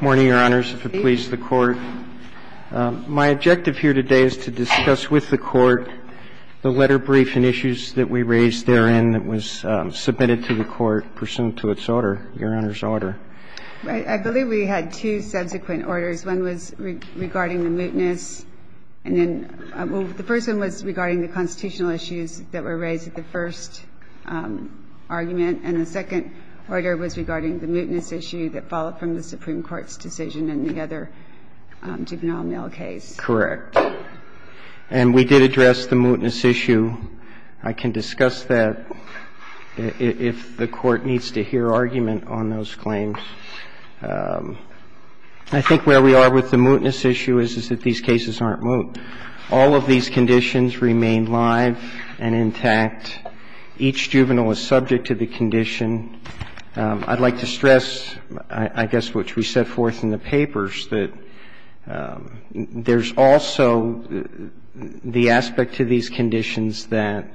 Morning, Your Honors, if it pleases the Court. My objective here today is to discuss with the Court the letter brief and issues that we raised therein that was submitted to the Court pursuant to its order, Your Honor's order. I believe we had two subsequent orders. One was regarding the mootness, and then the first one was regarding the constitutional issues that were raised at the first argument, and the second order was regarding the mootness issue that followed from the Supreme Court's decision in the other juvenile mail case. Correct. And we did address the mootness issue. I can discuss that if the Court needs to hear argument on those claims. I think where we are with the mootness issue is that these cases aren't moot. All of these conditions remain live and intact. Each juvenile is subject to the condition. I'd like to stress, I guess, which we set forth in the papers, that there's also the aspect to these conditions that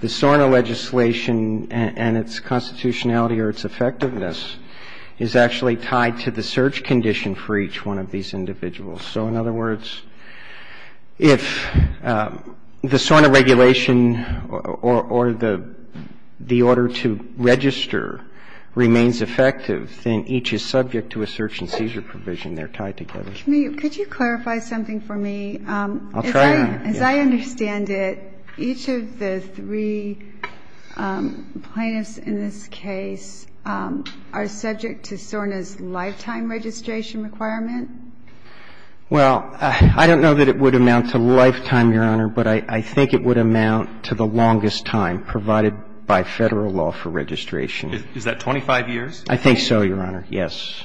the SORNA legislation and its constitutionality or its effectiveness is actually tied to the search condition for each one of these individuals. So, in other words, if the SORNA regulation or the order to register remains effective, then each is subject to a search and seizure provision. They're tied together. Could you clarify something for me? As I understand it, each of the three plaintiffs in this case are subject to SORNA's lifetime registration requirement? Well, I don't know that it would amount to lifetime, Your Honor, but I think it would amount to the longest time provided by Federal law for registration. Is that 25 years? I think so, Your Honor, yes.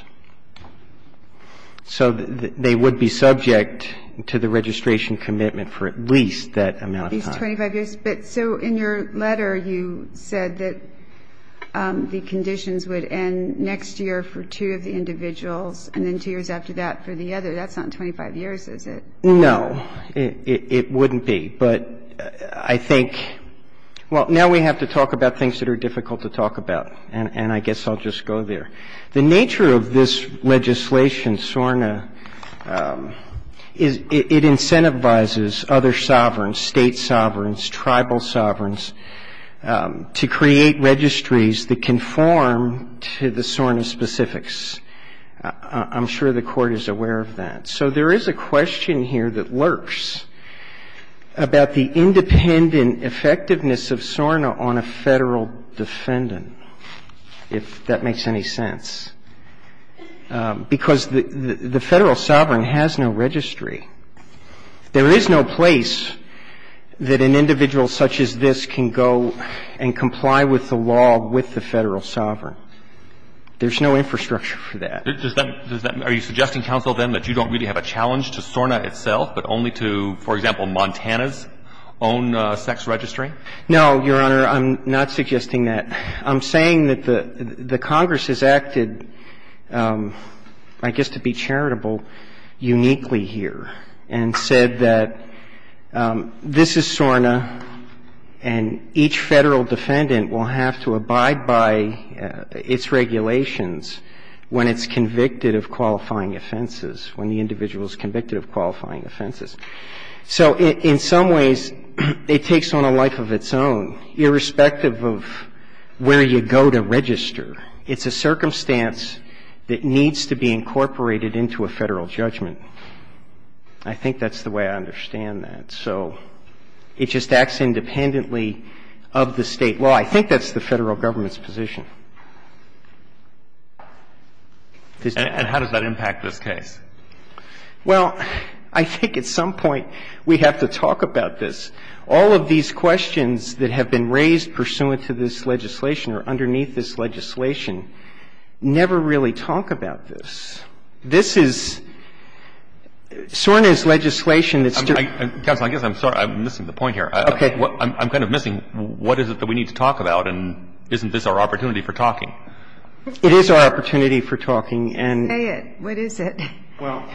So they would be subject to the registration commitment for at least that amount of time. At least 25 years. But so in your letter, you said that the conditions would end next year for two of the individuals and then two years after that for the other. That's not 25 years, is it? No. It wouldn't be. But I think, well, now we have to talk about things that are difficult to talk about, and I guess I'll just go there. The nature of this legislation, SORNA, is it incentivizes other sovereigns, State sovereigns, tribal sovereigns, to create registries that conform to the SORNA specifics. I'm sure the Court is aware of that. So there is a question here that lurks about the independent effectiveness of SORNA on a Federal defendant, if that makes any sense. Because the Federal sovereign has no registry. There is no place that an individual such as this can go and comply with the law with the Federal sovereign. There's no infrastructure for that. Are you suggesting, counsel, then, that you don't really have a challenge to SORNA itself, but only to, for example, Montana's own sex registry? No, Your Honor. I'm not suggesting that. I'm saying that the Congress has acted, I guess to be charitable, uniquely here and said that this is SORNA and each Federal defendant will have to abide by its regulations when it's convicted of qualifying offenses, when the individual is convicted of qualifying offenses. So in some ways, it takes on a life of its own, irrespective of where you go to register. It's a circumstance that needs to be incorporated into a Federal judgment. I think that's the way I understand that. So it just acts independently of the State law. I think that's the Federal government's position. And how does that impact this case? Well, I think at some point we have to talk about this. All of these questions that have been raised pursuant to this legislation or underneath this legislation never really talk about this. This is SORNA's legislation that's too... Counsel, I guess I'm sorry. I'm missing the point here. Okay. I'm kind of missing what is it that we need to talk about, and isn't this our opportunity for talking? It is our opportunity for talking, and... Say it. What is it? Well,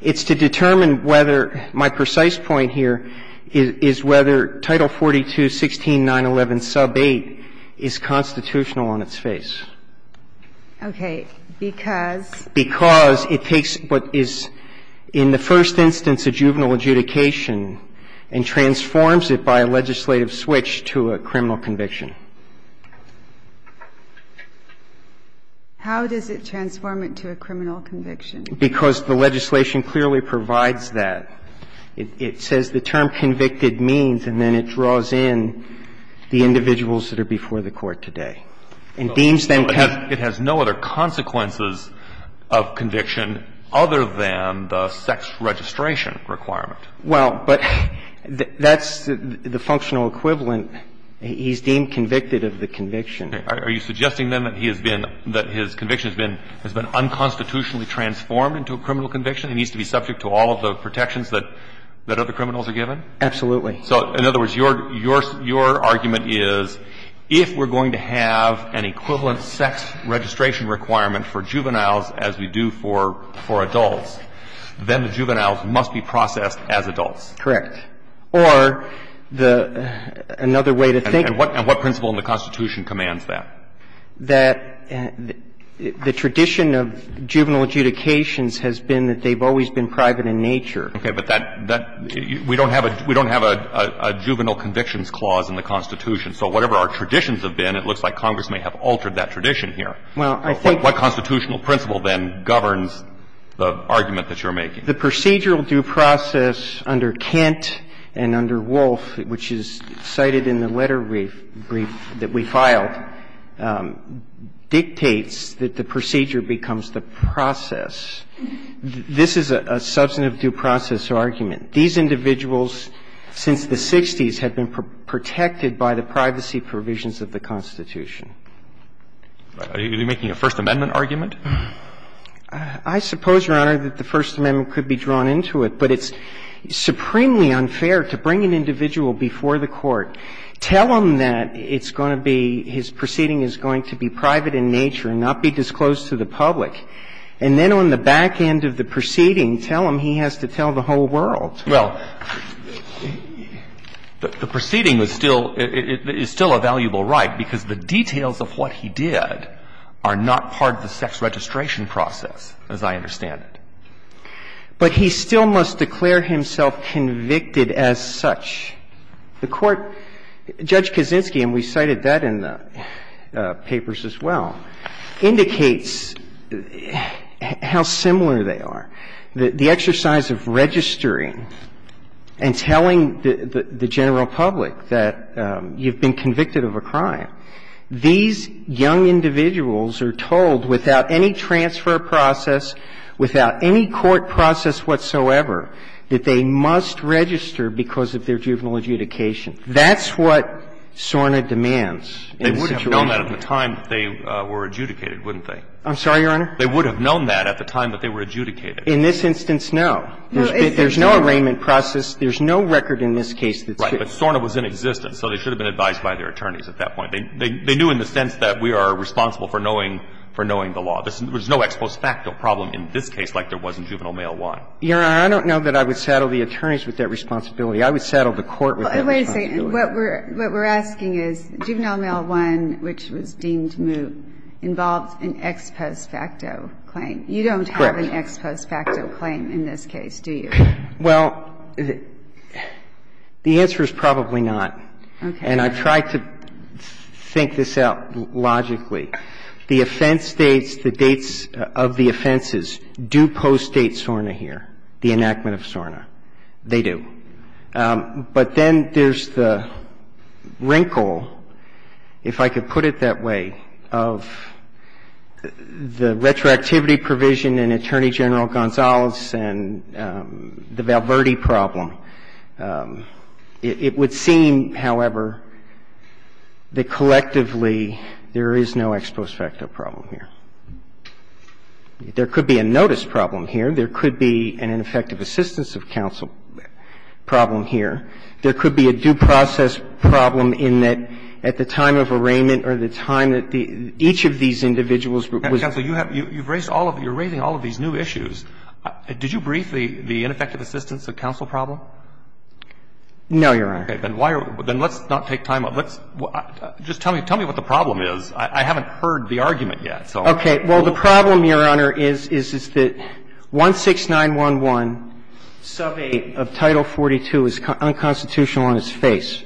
it's to determine whether my precise point here is whether Title 42, 16911 sub 8 is constitutional on its face. Okay. Because? Because it takes what is in the first instance a juvenile adjudication and transforms it by a legislative switch to a criminal conviction. How does it transform it to a criminal conviction? Because the legislation clearly provides that. It says the term convicted means, and then it draws in the individuals that are before the Court today and deems them... And it has no other consequences of conviction other than the sex registration requirement. Well, but that's the functional equivalent. He's deemed convicted of the conviction. Are you suggesting, then, that he has been, that his conviction has been unconstitutionally transformed into a criminal conviction? He needs to be subject to all of the protections that other criminals are given? Absolutely. So in other words, your argument is if we're going to have an equivalent sex registration requirement for juveniles as we do for adults, then the juveniles must be processed as adults. Correct. Or another way to think of it... And what principle in the Constitution commands that? That the tradition of juvenile adjudications has been that they've always been private in nature. Okay. But that we don't have a juvenile convictions clause in the Constitution. So whatever our traditions have been, it looks like Congress may have altered that tradition here. Well, I think... What constitutional principle then governs the argument that you're making? The procedural due process under Kent and under Wolf, which is cited in the letter brief that we filed, dictates that the procedure becomes the process. This is a substantive due process argument. These individuals, since the 60s, have been protected by the privacy provisions of the Constitution. Are you making a First Amendment argument? I suppose, Your Honor, that the First Amendment could be drawn into it. But it's supremely unfair to bring an individual before the court, tell him that it's going to be his proceeding is going to be private in nature and not be disclosed to the public. And then on the back end of the proceeding, tell him he has to tell the whole world. Well, the proceeding is still a valuable right because the details of what he did are not part of the sex registration process, as I understand it. But he still must declare himself convicted as such. The Court, Judge Kaczynski, and we cited that in the papers as well, indicates how similar they are. The exercise of registering and telling the general public that you've been convicted of a crime, these young individuals are told without any transfer process, without any court process whatsoever, that they must register because of their juvenile adjudication. That's what SORNA demands in this situation. They would have known that at the time they were adjudicated, wouldn't they? I'm sorry, Your Honor? They would have known that at the time that they were adjudicated. In this instance, no. There's no arraignment process. There's no record in this case that's written. Right. But SORNA was inexistent. So they should have been advised by their attorneys at that point. They knew in the sense that we are responsible for knowing the law. There's no ex post facto problem in this case like there was in Juvenile Mail 1. Your Honor, I don't know that I would saddle the attorneys with that responsibility. I would saddle the court with that responsibility. Well, wait a second. What we're asking is, Juvenile Mail 1, which was deemed moot, involved an ex post facto claim. Correct. You don't have an ex post facto claim in this case, do you? Well, the answer is probably not. Okay. And I've tried to think this out logically. The offense dates, the dates of the offenses do postdate SORNA here, the enactment of SORNA. They do. But then there's the wrinkle, if I could put it that way, of the retroactivity provision in Attorney General Gonzalez and the Val Verde problem. It would seem, however, that collectively there is no ex post facto problem here. There could be a notice problem here. There could be an ineffective assistance of counsel problem here. There could be a due process problem in that at the time of arraignment or the time that each of these individuals was at. Counsel, you have raised all of these new issues. Did you brief the ineffective assistance of counsel problem? No, Your Honor. Then let's not take time. Just tell me what the problem is. I haven't heard the argument yet. Okay. Well, the problem, Your Honor, is that 16911 sub 8 of Title 42 is unconstitutional on its face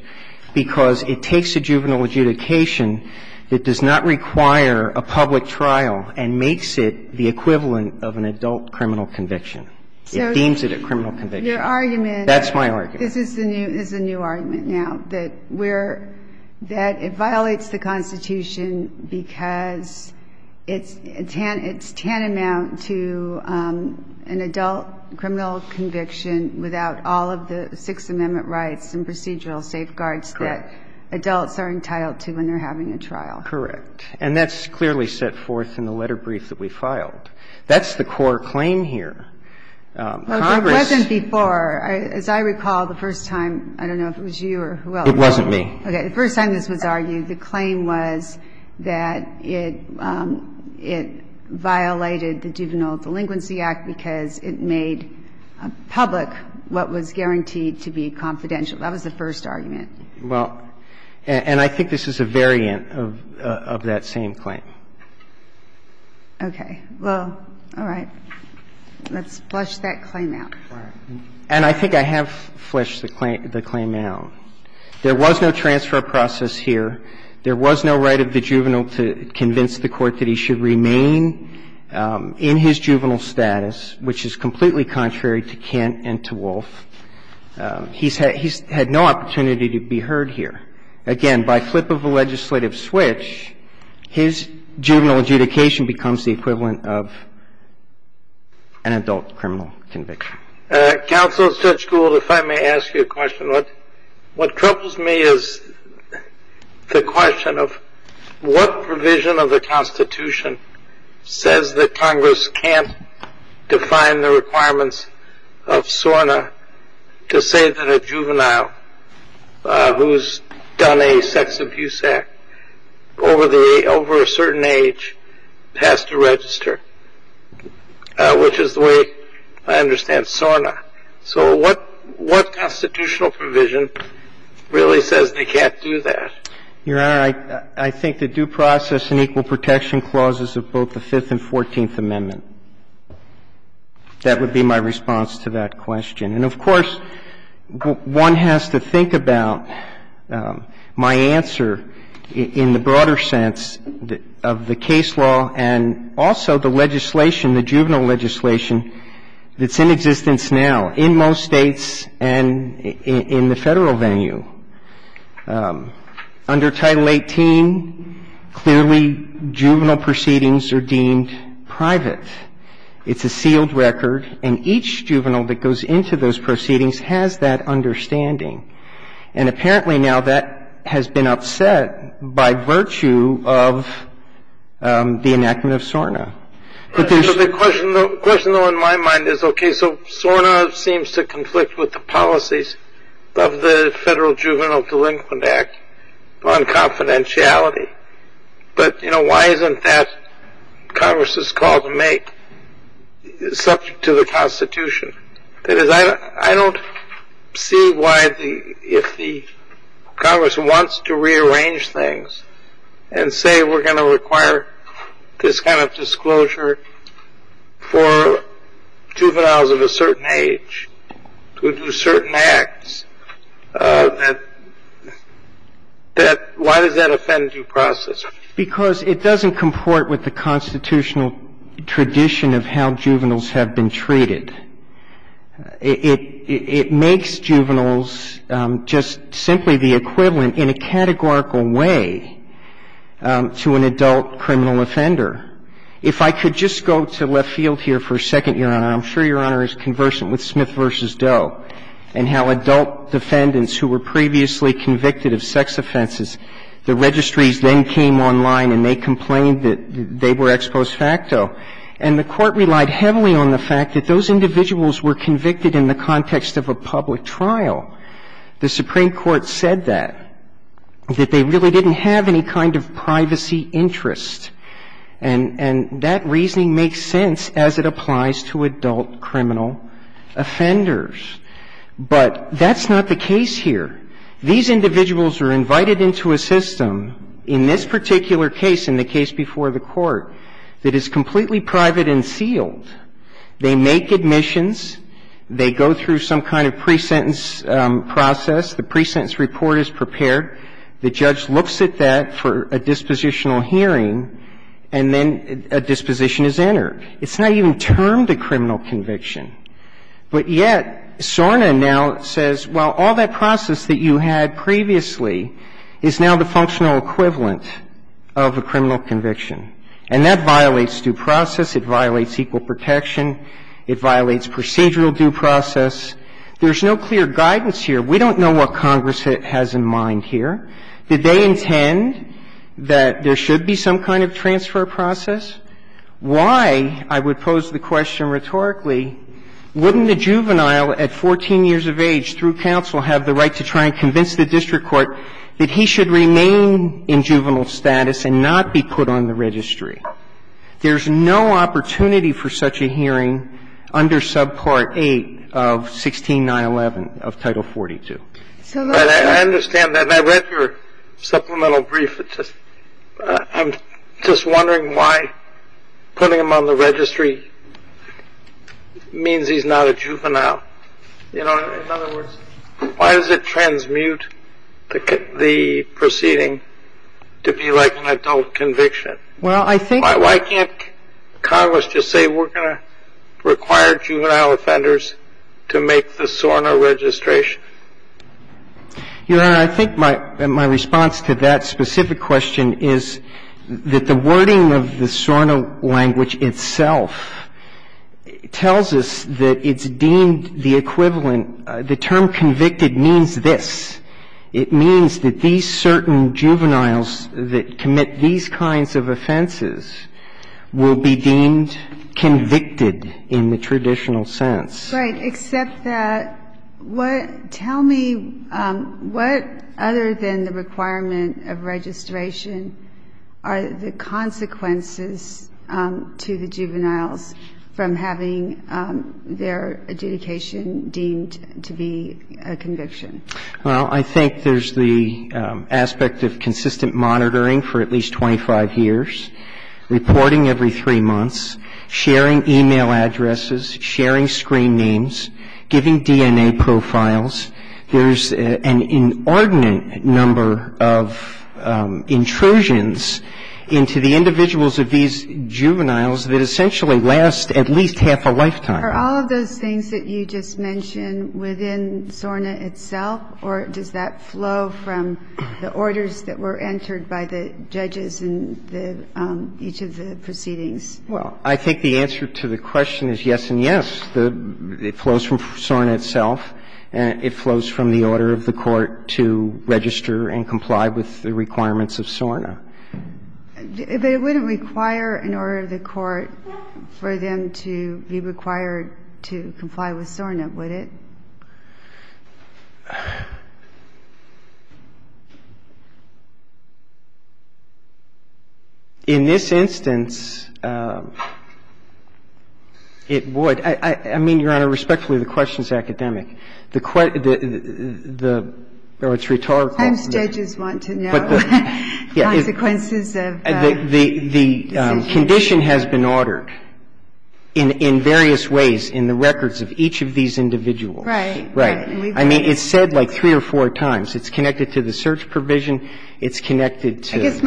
because it takes a juvenile adjudication that does not require a public trial and makes it the equivalent of an adult criminal conviction. It deems it a criminal conviction. Your argument. That's my argument. This is the new argument now, that it violates the Constitution because it's tantamount to an adult criminal conviction without all of the Sixth Amendment rights and procedural safeguards that adults are entitled to when they're having a trial. Correct. And that's clearly set forth in the letter brief that we filed. That's the core claim here. Well, it wasn't before. As I recall, the first time, I don't know if it was you or whoever. It wasn't me. Okay. The first time this was argued, the claim was that it violated the Juvenile Delinquency Act because it made public what was guaranteed to be confidential. That was the first argument. Well, and I think this is a variant of that same claim. Okay. Well, all right. Let's flesh that claim out. And I think I have fleshed the claim out. There was no transfer process here. There was no right of the juvenile to convince the Court that he should remain in his juvenile status, which is completely contrary to Kent and to Wolf. He's had no opportunity to be heard here. Again, by flip of a legislative switch, his juvenile adjudication becomes the equivalent of an adult criminal conviction. Counsel, Judge Gould, if I may ask you a question. What troubles me is the question of what provision of the Constitution says that Congress can't define the requirements of SORNA to say that a juvenile who has done a certain age has to register, which is the way I understand SORNA. So what constitutional provision really says they can't do that? Your Honor, I think the due process and equal protection clauses of both the Fifth and Fourteenth Amendment. That would be my response to that question. And, of course, one has to think about my answer in the broader sense of the case law and also the legislation, the juvenile legislation that's in existence now in most States and in the Federal venue. Under Title 18, clearly juvenile proceedings are deemed private. It's a sealed record. And each juvenile that goes into those proceedings has that understanding. And apparently now that has been upset by virtue of the enactment of SORNA. The question, though, in my mind is, okay, so SORNA seems to conflict with the policies of the Federal Juvenile Delinquent Act on confidentiality. But, you know, why isn't that Congress's call to make subject to the Constitution? Because I don't see why if the Congress wants to rearrange things and say we're going to require this kind of disclosure for juveniles of a certain age to do certain acts, why does that offend due process? Because it doesn't comport with the constitutional tradition of how juveniles have been treated. It makes juveniles just simply the equivalent in a categorical way to an adult criminal offender. If I could just go to left field here for a second, Your Honor, and I'm sure Your Honor is conversant with Smith v. Doe and how adult defendants who were previously convicted of sex offenses, the registries then came online and they complained that they were ex post facto. And the Court relied heavily on the fact that those individuals were convicted in the context of a public trial. The Supreme Court said that, that they really didn't have any kind of privacy interest. And that reasoning makes sense as it applies to adult criminal offenders. But that's not the case here. These individuals are invited into a system in this particular case, in the case before the Court, that is completely private and sealed. They make admissions. They go through some kind of pre-sentence process. The pre-sentence report is prepared. The judge looks at that for a dispositional hearing, and then a disposition is entered. It's not even termed a criminal conviction. But yet SORNA now says, well, all that process that you had previously is now the functional equivalent of a criminal conviction. And that violates due process. It violates equal protection. It violates procedural due process. There's no clear guidance here. We don't know what Congress has in mind here. Did they intend that there should be some kind of transfer process? Why, I would pose the question rhetorically, wouldn't a juvenile at 14 years of age through counsel have the right to try and convince the district court that he should remain in juvenile status and not be put on the registry? There's no opportunity for such a hearing under subpart 8 of 16911 of Title 42. So that's why. I understand that. I read your supplemental brief. I'm just wondering why putting him on the registry means he's not a juvenile. You know, in other words, why does it transmute the proceeding to be like an adult conviction? Why can't Congress just say we're going to require juvenile offenders to make the SORNA registration? Your Honor, I think my response to that specific question is that the wording of the SORNA language itself tells us that it's deemed the equivalent. The term convicted means this. It means that these certain juveniles that commit these kinds of offenses will be deemed convicted in the traditional sense. Right. Except that what – tell me what other than the requirement of registration are the consequences to the juveniles from having their adjudication deemed to be a conviction? Well, I think there's the aspect of consistent monitoring for at least 25 years, reporting every three months, sharing e-mail addresses, sharing screen names, giving DNA profiles. There's an inordinate number of intrusions into the individuals of these juveniles that essentially last at least half a lifetime. Are all of those things that you just mentioned within SORNA itself, or does that flow from the orders that were entered by the judges in the – each of the proceedings? Well, I think the answer to the question is yes and yes. It flows from SORNA itself, and it flows from the order of the court to register and comply with the requirements of SORNA. But it wouldn't require an order of the court for them to be required to comply with SORNA, would it? In this instance, it would. I mean, Your Honor, respectfully, the question is academic. The – or it's rhetorical. And judges want to know. It's rhetorical. I mean, we've discussed this before. The consequences of the decision? The condition has been ordered in various ways in the records of each of these individuals. Right. Right. I mean, it's said like three or four times. It's connected to the search provision. It's connected to the search provision.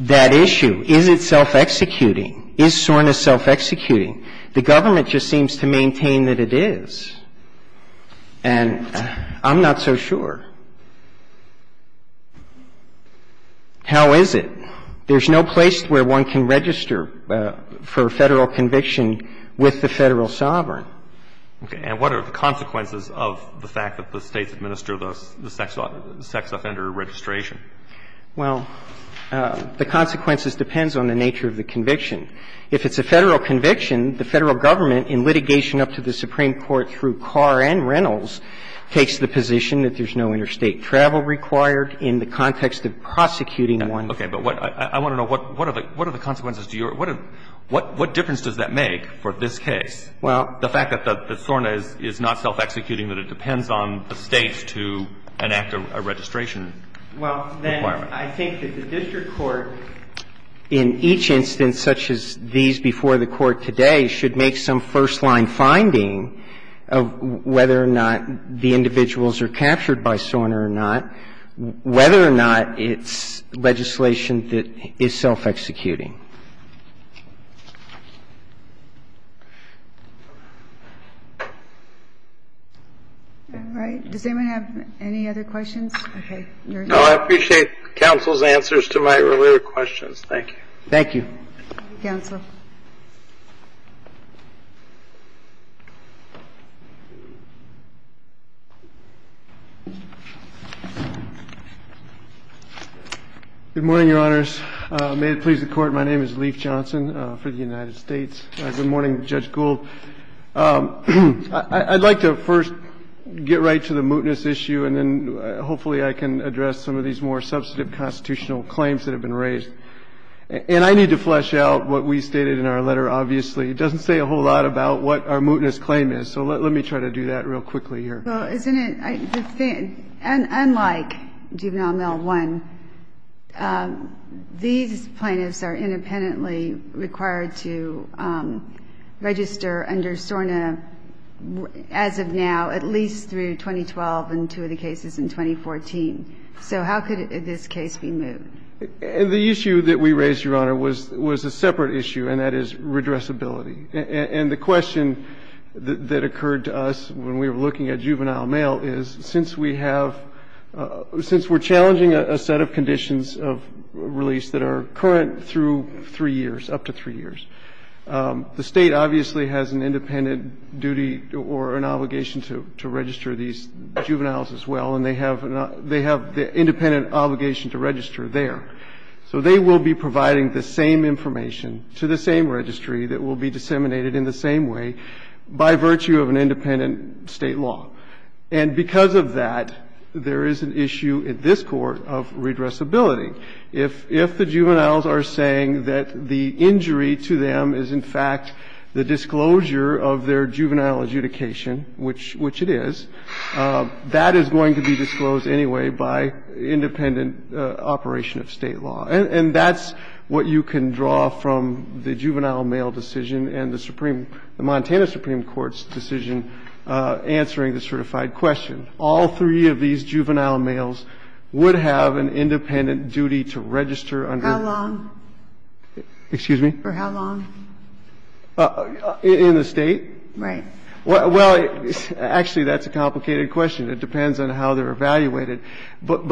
That issue, is it self-executing? Is SORNA self-executing? The government just seems to maintain that it is. And I'm not so sure. How is it? There's no place where one can register for a Federal conviction with the Federal sovereign. Okay. And what are the consequences of the fact that the States administer the sex offender registration? Well, the consequences depends on the nature of the conviction. If it's a Federal conviction, the Federal government, in litigation up to the Supreme Court through Carr and Reynolds, takes the position that there's no interstate travel required in the context of prosecuting one. Okay. But I want to know, what are the consequences? What difference does that make for this case? Well. The fact that SORNA is not self-executing, that it depends on the States to enact a registration. Well, then I think that the district court, in each instance such as these before the Court today, should make some first-line finding of whether or not the individuals are captured by SORNA or not, whether or not it's legislation that is self-executing. All right. Does anyone have any other questions? Okay. I appreciate counsel's answers to my earlier questions. Thank you. Thank you. Counsel. Good morning, Your Honors. May it please the Court, my name is Leif Johnson for the United States. Good morning, Judge Gould. I'd like to first get right to the mootness issue, and then hopefully I can address some of these more substantive constitutional claims that have been raised. And I need to flesh out what we stated in our letter, obviously. It doesn't say a whole lot about what our mootness claim is. So let me try to do that real quickly here. Well, isn't it unlike Juvenile Mile 1, these plaintiffs are independently required to register under SORNA as of now, at least through 2012 and two of the cases in 2014. So how could this case be moved? The issue that we raised, Your Honor, was a separate issue, and that is redressability. And the question that occurred to us when we were looking at Juvenile Mile is, since we have – since we're challenging a set of conditions of release that are current through three years, up to three years, the State obviously has an independent duty or an obligation to register these juveniles as well, and they have the independent obligation to register there. So they will be providing the same information to the same registry that will be disseminated in the same way by virtue of an independent State law. And because of that, there is an issue at this court of redressability. If the juveniles are saying that the injury to them is, in fact, the disclosure of their juvenile adjudication, which it is, that is going to be disclosed anyway by independent operation of State law. And that's what you can draw from the Juvenile Mile decision and the Supreme – the Montana Supreme Court's decision answering the certified question. All three of these juvenile males would have an independent duty to register under the – How long? Excuse me? For how long? In the State? Right. Well, actually, that's a complicated question. It depends on how they're evaluated. But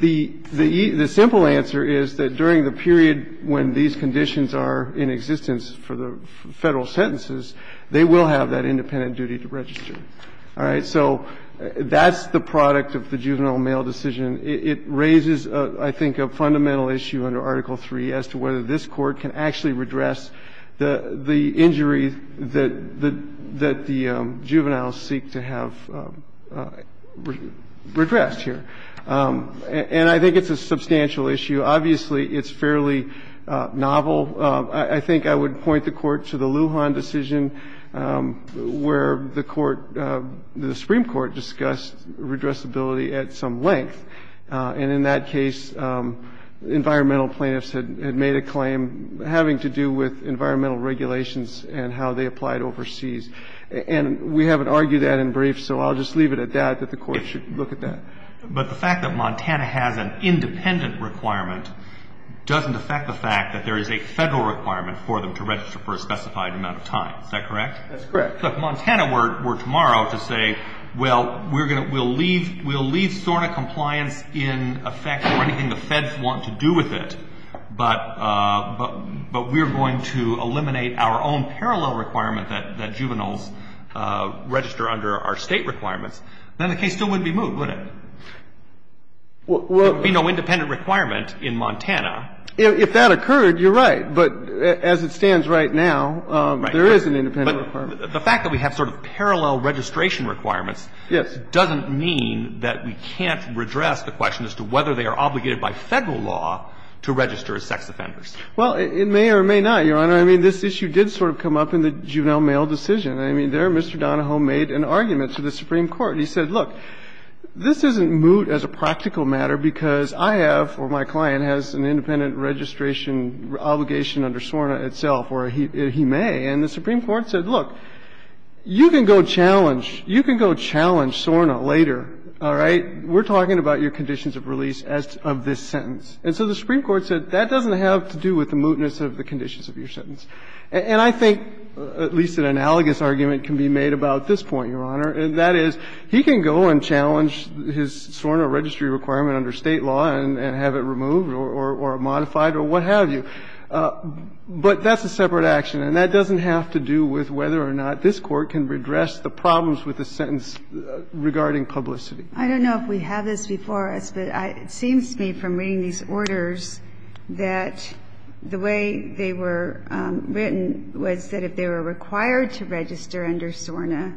the – the simple answer is that during the period when these conditions are in existence for the Federal sentences, they will have that independent duty to register. All right? And so that's the product of the Juvenile Mile decision. It raises, I think, a fundamental issue under Article 3 as to whether this Court can actually redress the injury that the juveniles seek to have redressed here. And I think it's a substantial issue. Obviously, it's fairly novel. I think I would point the Court to the Lujan decision, where the Court – the Supreme Court discussed redressability at some length. And in that case, environmental plaintiffs had made a claim having to do with environmental regulations and how they applied overseas. And we haven't argued that in brief, so I'll just leave it at that, that the Court should look at that. But the fact that Montana has an independent requirement doesn't affect the fact that there is a Federal requirement for them to register for a specified amount of time. Is that correct? That's correct. So if Montana were tomorrow to say, well, we're going to – we'll leave – we'll leave SORNA compliance in effect for anything the Feds want to do with it, but we're going to eliminate our own parallel requirement that juveniles register under our State requirements, then the case still wouldn't be moved, would it? Well – There would be no independent requirement in Montana. If that occurred, you're right. But as it stands right now, there is an independent requirement. But the fact that we have sort of parallel registration requirements doesn't mean that we can't redress the question as to whether they are obligated by Federal law to register as sex offenders. Well, it may or may not, Your Honor. I mean, this issue did sort of come up in the juvenile mail decision. I mean, there Mr. Donahoe made an argument to the Supreme Court. He said, look, this isn't moot as a practical matter because I have, or my client has an independent registration obligation under SORNA itself, or he may. And the Supreme Court said, look, you can go challenge – you can go challenge SORNA later, all right? We're talking about your conditions of release as to – of this sentence. And so the Supreme Court said that doesn't have to do with the mootness of the conditions of your sentence. And I think at least an analogous argument can be made about this point, Your Honor, and that is he can go and challenge his SORNA registry requirement under State law and have it removed or modified or what have you. But that's a separate action, and that doesn't have to do with whether or not this Court can redress the problems with the sentence regarding publicity. I don't know if we have this before us, but it seems to me from reading these orders that the way they were written was that if they were required to register under SORNA,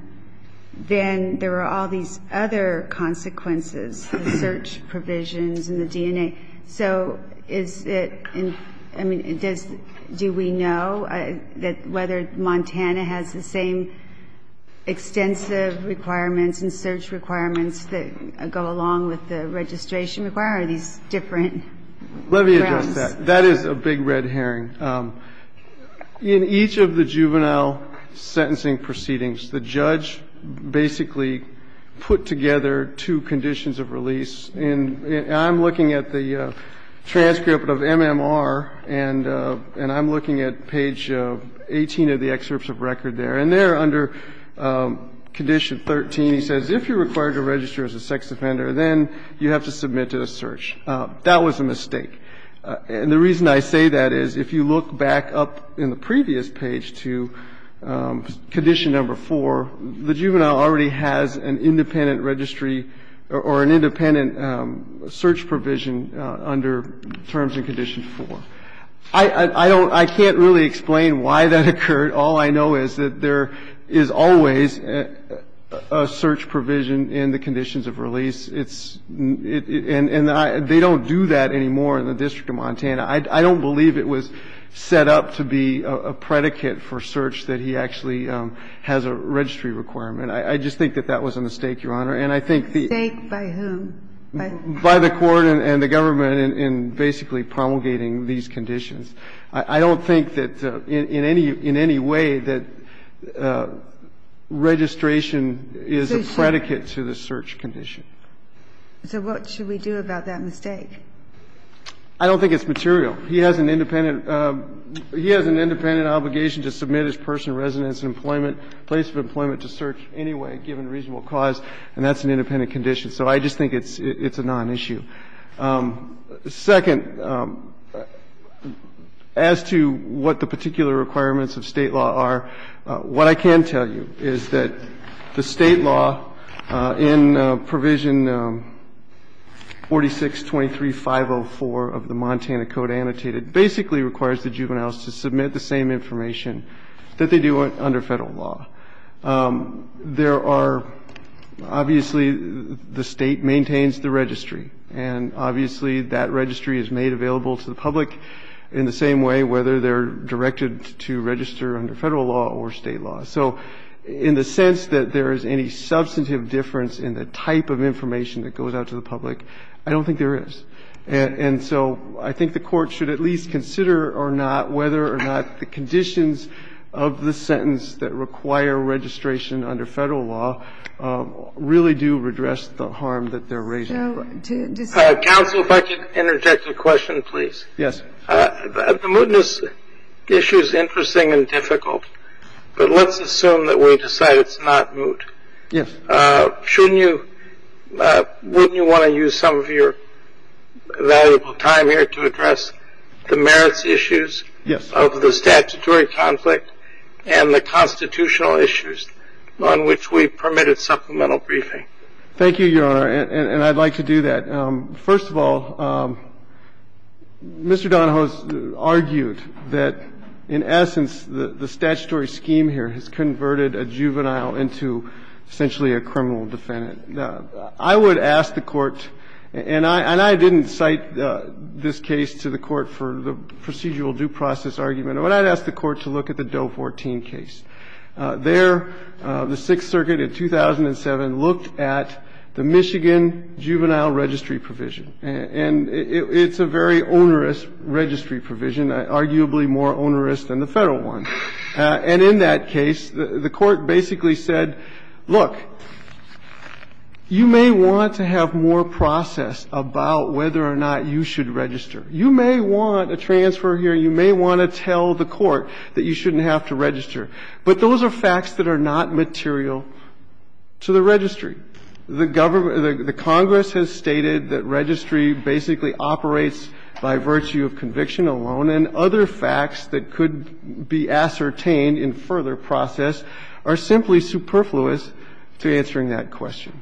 then there were all these other consequences, the search provisions and the DNA. So is it – I mean, does – do we know that whether Montana has the same extensive requirements and search requirements that go along with the registration requirement, or are these different grounds? Let me address that. That is a big red herring. In each of the juvenile sentencing proceedings, the judge basically put together two conditions of release. And I'm looking at the transcript of MMR, and I'm looking at page 18 of the excerpts of record there. And there, under Condition 13, he says, if you're required to register as a sex offender, then you have to submit to the search. That was a mistake. And the reason I say that is if you look back up in the previous page to Condition Number 4, the juvenile already has an independent registry or an independent search provision under Terms and Conditions 4. I don't – I can't really explain why that occurred. All I know is that there is always a search provision in the conditions of release. And they don't do that anymore in the District of Montana. I don't believe it was set up to be a predicate for search that he actually has a registry requirement. I just think that that was a mistake, Your Honor. And I think the – A mistake by whom? By the court and the government in basically promulgating these conditions. I don't think that in any way that registration is a predicate to the search condition. So what should we do about that mistake? I don't think it's material. He has an independent – he has an independent obligation to submit his personal residence and employment, place of employment to search anyway given reasonable cause, and that's an independent condition. So I just think it's a non-issue. Second, as to what the particular requirements of State law are, what I can tell you is that the State law in Provision 4623.504 of the Montana Code Annotated basically requires the juveniles to submit the same information that they do under Federal law. There are – obviously, the State maintains the registry. And obviously, that registry is made available to the public in the same way, whether they're directed to register under Federal law or State law. So in the sense that there is any substantive difference in the type of information that goes out to the public, I don't think there is. And so I think the Court should at least consider or not whether or not the conditions of the sentence that require registration under Federal law really do redress the harm that they're raising. Counsel, if I could interject a question, please. Yes. The mootness issue is interesting and difficult, but let's assume that we decide it's not moot. Yes. Shouldn't you – wouldn't you want to use some of your valuable time here to address the merits issues? Yes. Of the statutory conflict and the constitutional issues on which we permitted supplemental briefing? Thank you, Your Honor, and I'd like to do that. First of all, Mr. Donahoe has argued that, in essence, the statutory scheme here has converted a juvenile into essentially a criminal defendant. I would ask the Court, and I didn't cite this case to the Court for the procedural due process argument, but I'd ask the Court to look at the Doe 14 case. There, the Sixth Circuit in 2007 looked at the Michigan juvenile registry provision, and it's a very onerous registry provision, arguably more onerous than the Federal one. And in that case, the Court basically said, look, you may want to have more process about whether or not you should register. You may want a transfer here. You may want to tell the Court that you shouldn't have to register. But those are facts that are not material to the registry. The government, the Congress has stated that registry basically operates by virtue of conviction alone, and other facts that could be ascertained in further process are simply superfluous to answering that question.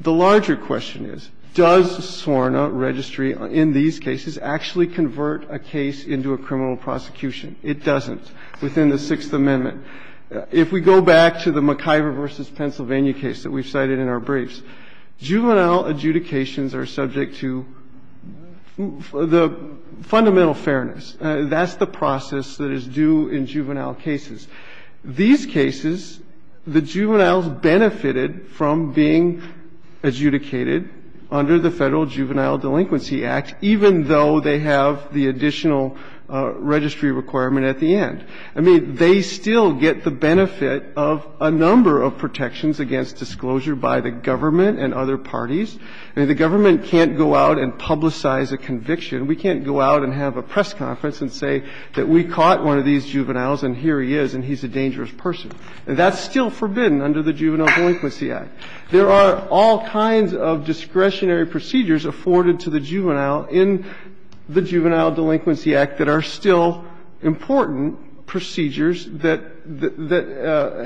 The larger question is, does SORNA registry in these cases actually convert a case into a criminal prosecution? It doesn't. It's a case that we've cited in the briefs, and it's a case that we've cited in the briefs within the Sixth Amendment. If we go back to the McIver v. Pennsylvania case that we've cited in our briefs, juvenile adjudications are subject to the fundamental fairness. That's the process that is due in juvenile cases. These cases, the juveniles benefited from being adjudicated under the Federal Juvenile Delinquency Act, even though they have the additional registry requirement at the end. I mean, they still get the benefit of a number of protections against disclosure by the government and other parties. I mean, the government can't go out and publicize a conviction. We can't go out and have a press conference and say that we caught one of these criminals and he's a dangerous person. That's still forbidden under the Juvenile Delinquency Act. There are all kinds of discretionary procedures afforded to the juvenile in the Juvenile Delinquency Act that are still important procedures that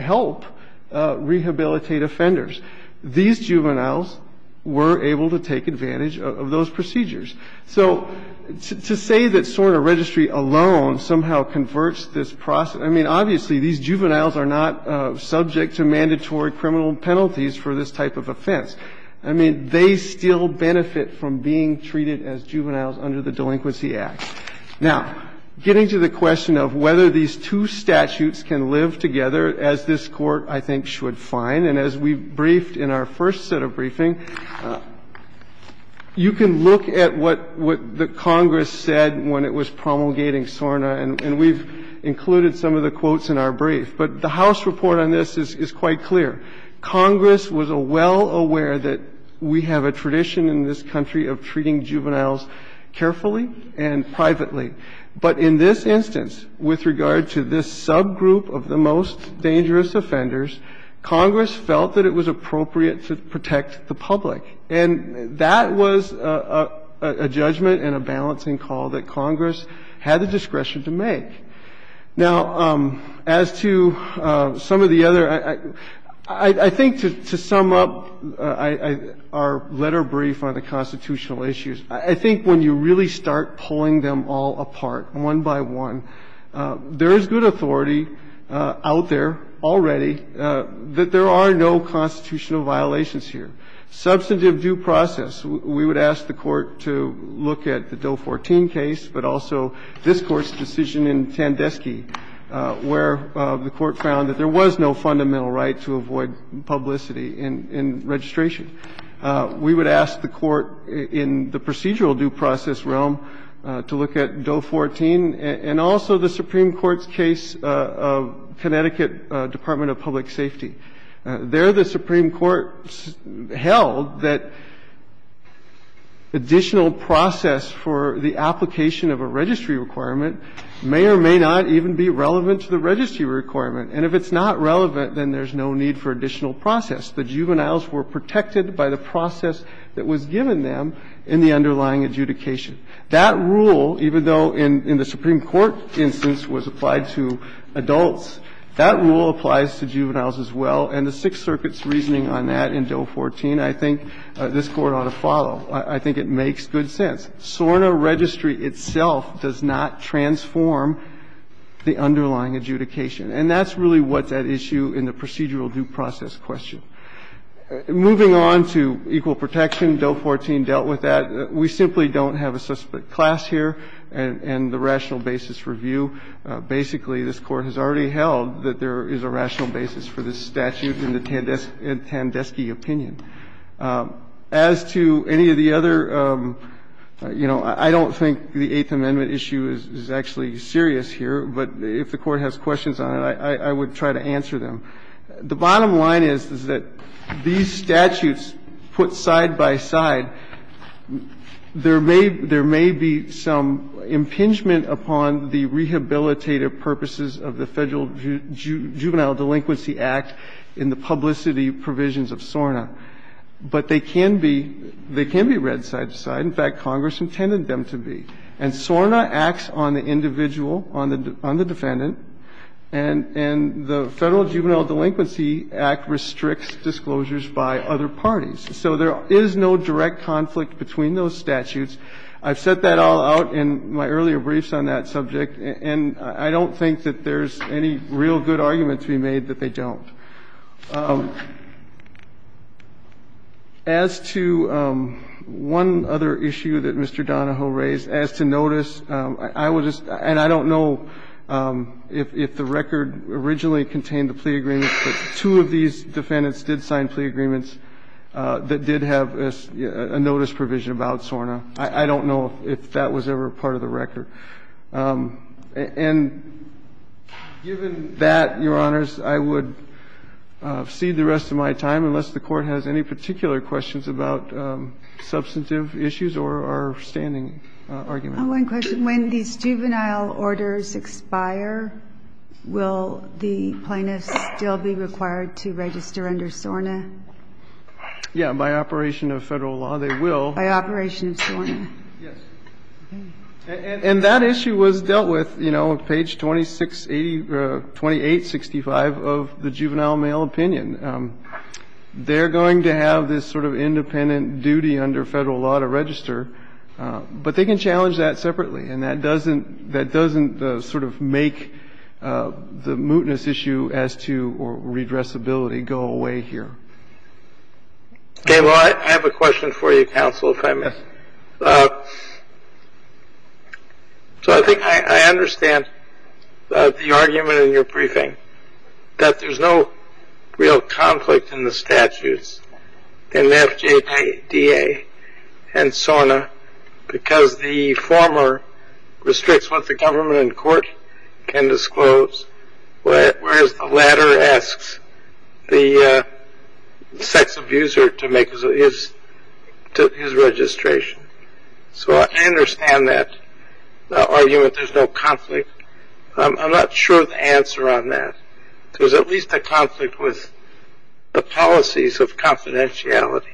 help rehabilitate offenders. These juveniles were able to take advantage of those procedures. So to say that SORNA registry alone somehow converts this process, I mean, obviously, these juveniles are not subject to mandatory criminal penalties for this type of offense. I mean, they still benefit from being treated as juveniles under the Delinquency Act. Now, getting to the question of whether these two statutes can live together as this Court, I think, should find, and as we briefed in our first set of briefing, you can look at what the Congress said when it was promulgating SORNA, and we've included some of the quotes in our brief. But the House report on this is quite clear. Congress was well aware that we have a tradition in this country of treating juveniles carefully and privately. But in this instance, with regard to this subgroup of the most dangerous offenders, Congress felt that it was appropriate to protect the public. And that was a judgment and a balancing call that Congress had the discretion to make. Now, as to some of the other – I think to sum up our letter brief on the constitutional issues, I think when you really start pulling them all apart, one by one, there is good authority out there already that there are no constitutional violations here. Substantive due process. We would ask the Court to look at the Doe 14 case, but also this Court's decision in Tandeski, where the Court found that there was no fundamental right to avoid publicity in registration. We would ask the Court in the procedural due process realm to look at Doe 14 and also the Supreme Court's case of Connecticut Department of Public Safety. There the Supreme Court held that additional process for the application of a registry requirement may or may not even be relevant to the registry requirement. And if it's not relevant, then there's no need for additional process. The juveniles were protected by the process that was given them in the underlying adjudication. That rule, even though in the Supreme Court instance was applied to adults, that rule applies to juveniles as well, and the Sixth Circuit's reasoning on that in Doe 14, I think, this Court ought to follow. I think it makes good sense. SORNA registry itself does not transform the underlying adjudication. And that's really what's at issue in the procedural due process question. Moving on to equal protection, Doe 14 dealt with that. We simply don't have a suspect class here and the rational basis review. Basically, this Court has already held that there is a rational basis for this statute in the Tandeschi opinion. As to any of the other, you know, I don't think the Eighth Amendment issue is actually serious here, but if the Court has questions on it, I would try to answer them. The bottom line is, is that these statutes put side by side, there may be some impingement upon the rehabilitative purposes of the Federal Juvenile Delinquency Act in the publicity provisions of SORNA, but they can be read side to side. In fact, Congress intended them to be. And SORNA acts on the individual, on the defendant, and the Federal Juvenile Delinquency Act restricts disclosures by other parties. So there is no direct conflict between those statutes. I've set that all out in my earlier briefs on that subject, and I don't think that there's any real good argument to be made that they don't. As to one other issue that Mr. Donahoe raised, as to notice, I will just, and I don't know if the record originally contained the plea agreements, but two of these defendants did sign plea agreements that did have a notice provision about SORNA. I don't know if that was ever part of the record. And given that, Your Honors, I would cede the rest of my time, unless the Court has any particular questions about substantive issues or standing arguments. One question. When these juvenile orders expire, will the plaintiffs still be required to register under SORNA? Yeah. By operation of Federal law, they will. By operation of SORNA. Yes. And that issue was dealt with, you know, on page 2865 of the juvenile mail opinion. They're going to have this sort of independent duty under Federal law to register. But they can challenge that separately. And that doesn't sort of make the mootness issue as to redressability go away here. Okay. Well, I have a question for you, counsel, if I may. So I think I understand the argument in your briefing that there's no real conflict in the statutes in FJDA and SORNA because the former restricts what the government in court can disclose, whereas the latter asks the sex abuser to make his registration. So I understand that argument. There's no conflict. I'm not sure of the answer on that. There's at least a conflict with the policies of confidentiality,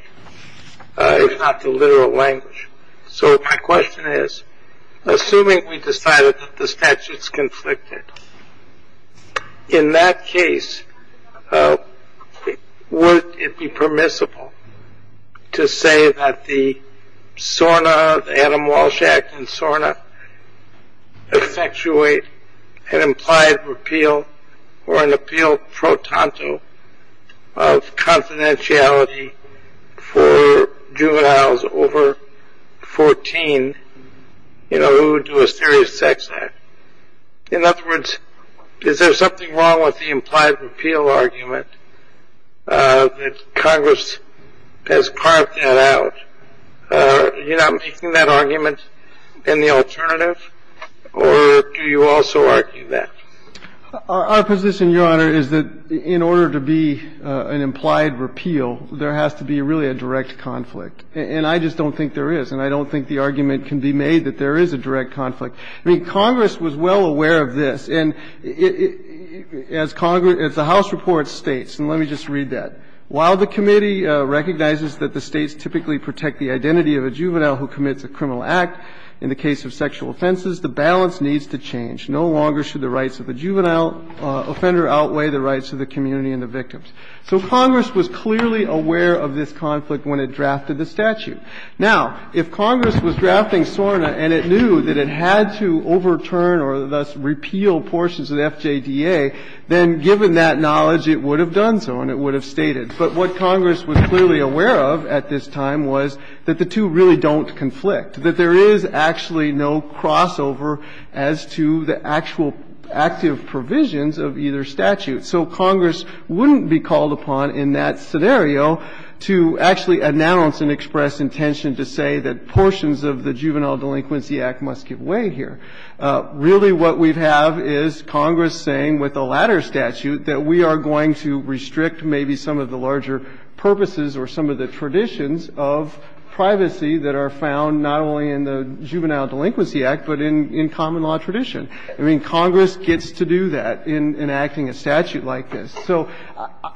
if not the literal language. So my question is, assuming we decided that the statute's conflicted, in that case, would it be permissible to say that the SORNA, the Adam Walsh Act in SORNA, effectuate an implied repeal or an appeal pro tanto of confidentiality for juveniles over 14, you know, who do a serious sex act? In other words, is there something wrong with the implied repeal argument that Congress has carved that out? Are you not making that argument in the alternative? Or do you also argue that? Our position, Your Honor, is that in order to be an implied repeal, there has to be really a direct conflict. And I just don't think there is. And I don't think the argument can be made that there is a direct conflict. I mean, Congress was well aware of this. And as the House report states, and let me just read that, So Congress was clearly aware of this conflict when it drafted the statute. Now, if Congress was drafting SORNA and it knew that it had to overturn or thus repeal portions of the FJDA, then given that knowledge, it would have done so and it would But what Congress was clearly aware of at this time was that the two really don't conflict, that there is actually no crossover as to the actual active provisions of either statute. So Congress wouldn't be called upon in that scenario to actually announce and express intention to say that portions of the Juvenile Delinquency Act must give way here. Really what we have is Congress saying with the latter statute that we are going to restrict maybe some of the larger purposes or some of the traditions of privacy that are found not only in the Juvenile Delinquency Act, but in common law tradition. I mean, Congress gets to do that in enacting a statute like this. So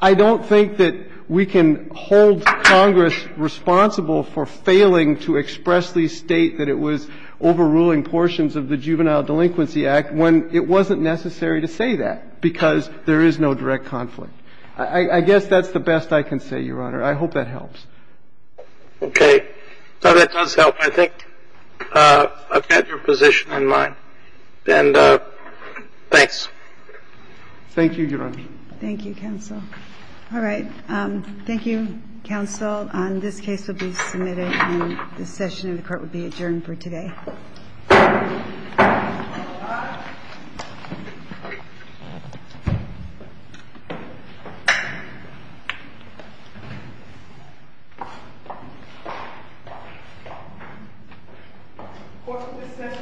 I don't think that we can hold Congress responsible for failing to expressly state that it was overruling portions of the Juvenile Delinquency Act when it wasn't necessary to say that because there is no direct conflict. I guess that's the best I can say, Your Honor. I hope that helps. Okay. So that does help. I think I've got your position in mind. And thanks. Thank you, Your Honor. Thank you, counsel. All right. Thank you, counsel. And this case will be submitted and this session of the Court will be adjourned for today. All rise. Court will discuss and stand adjourned.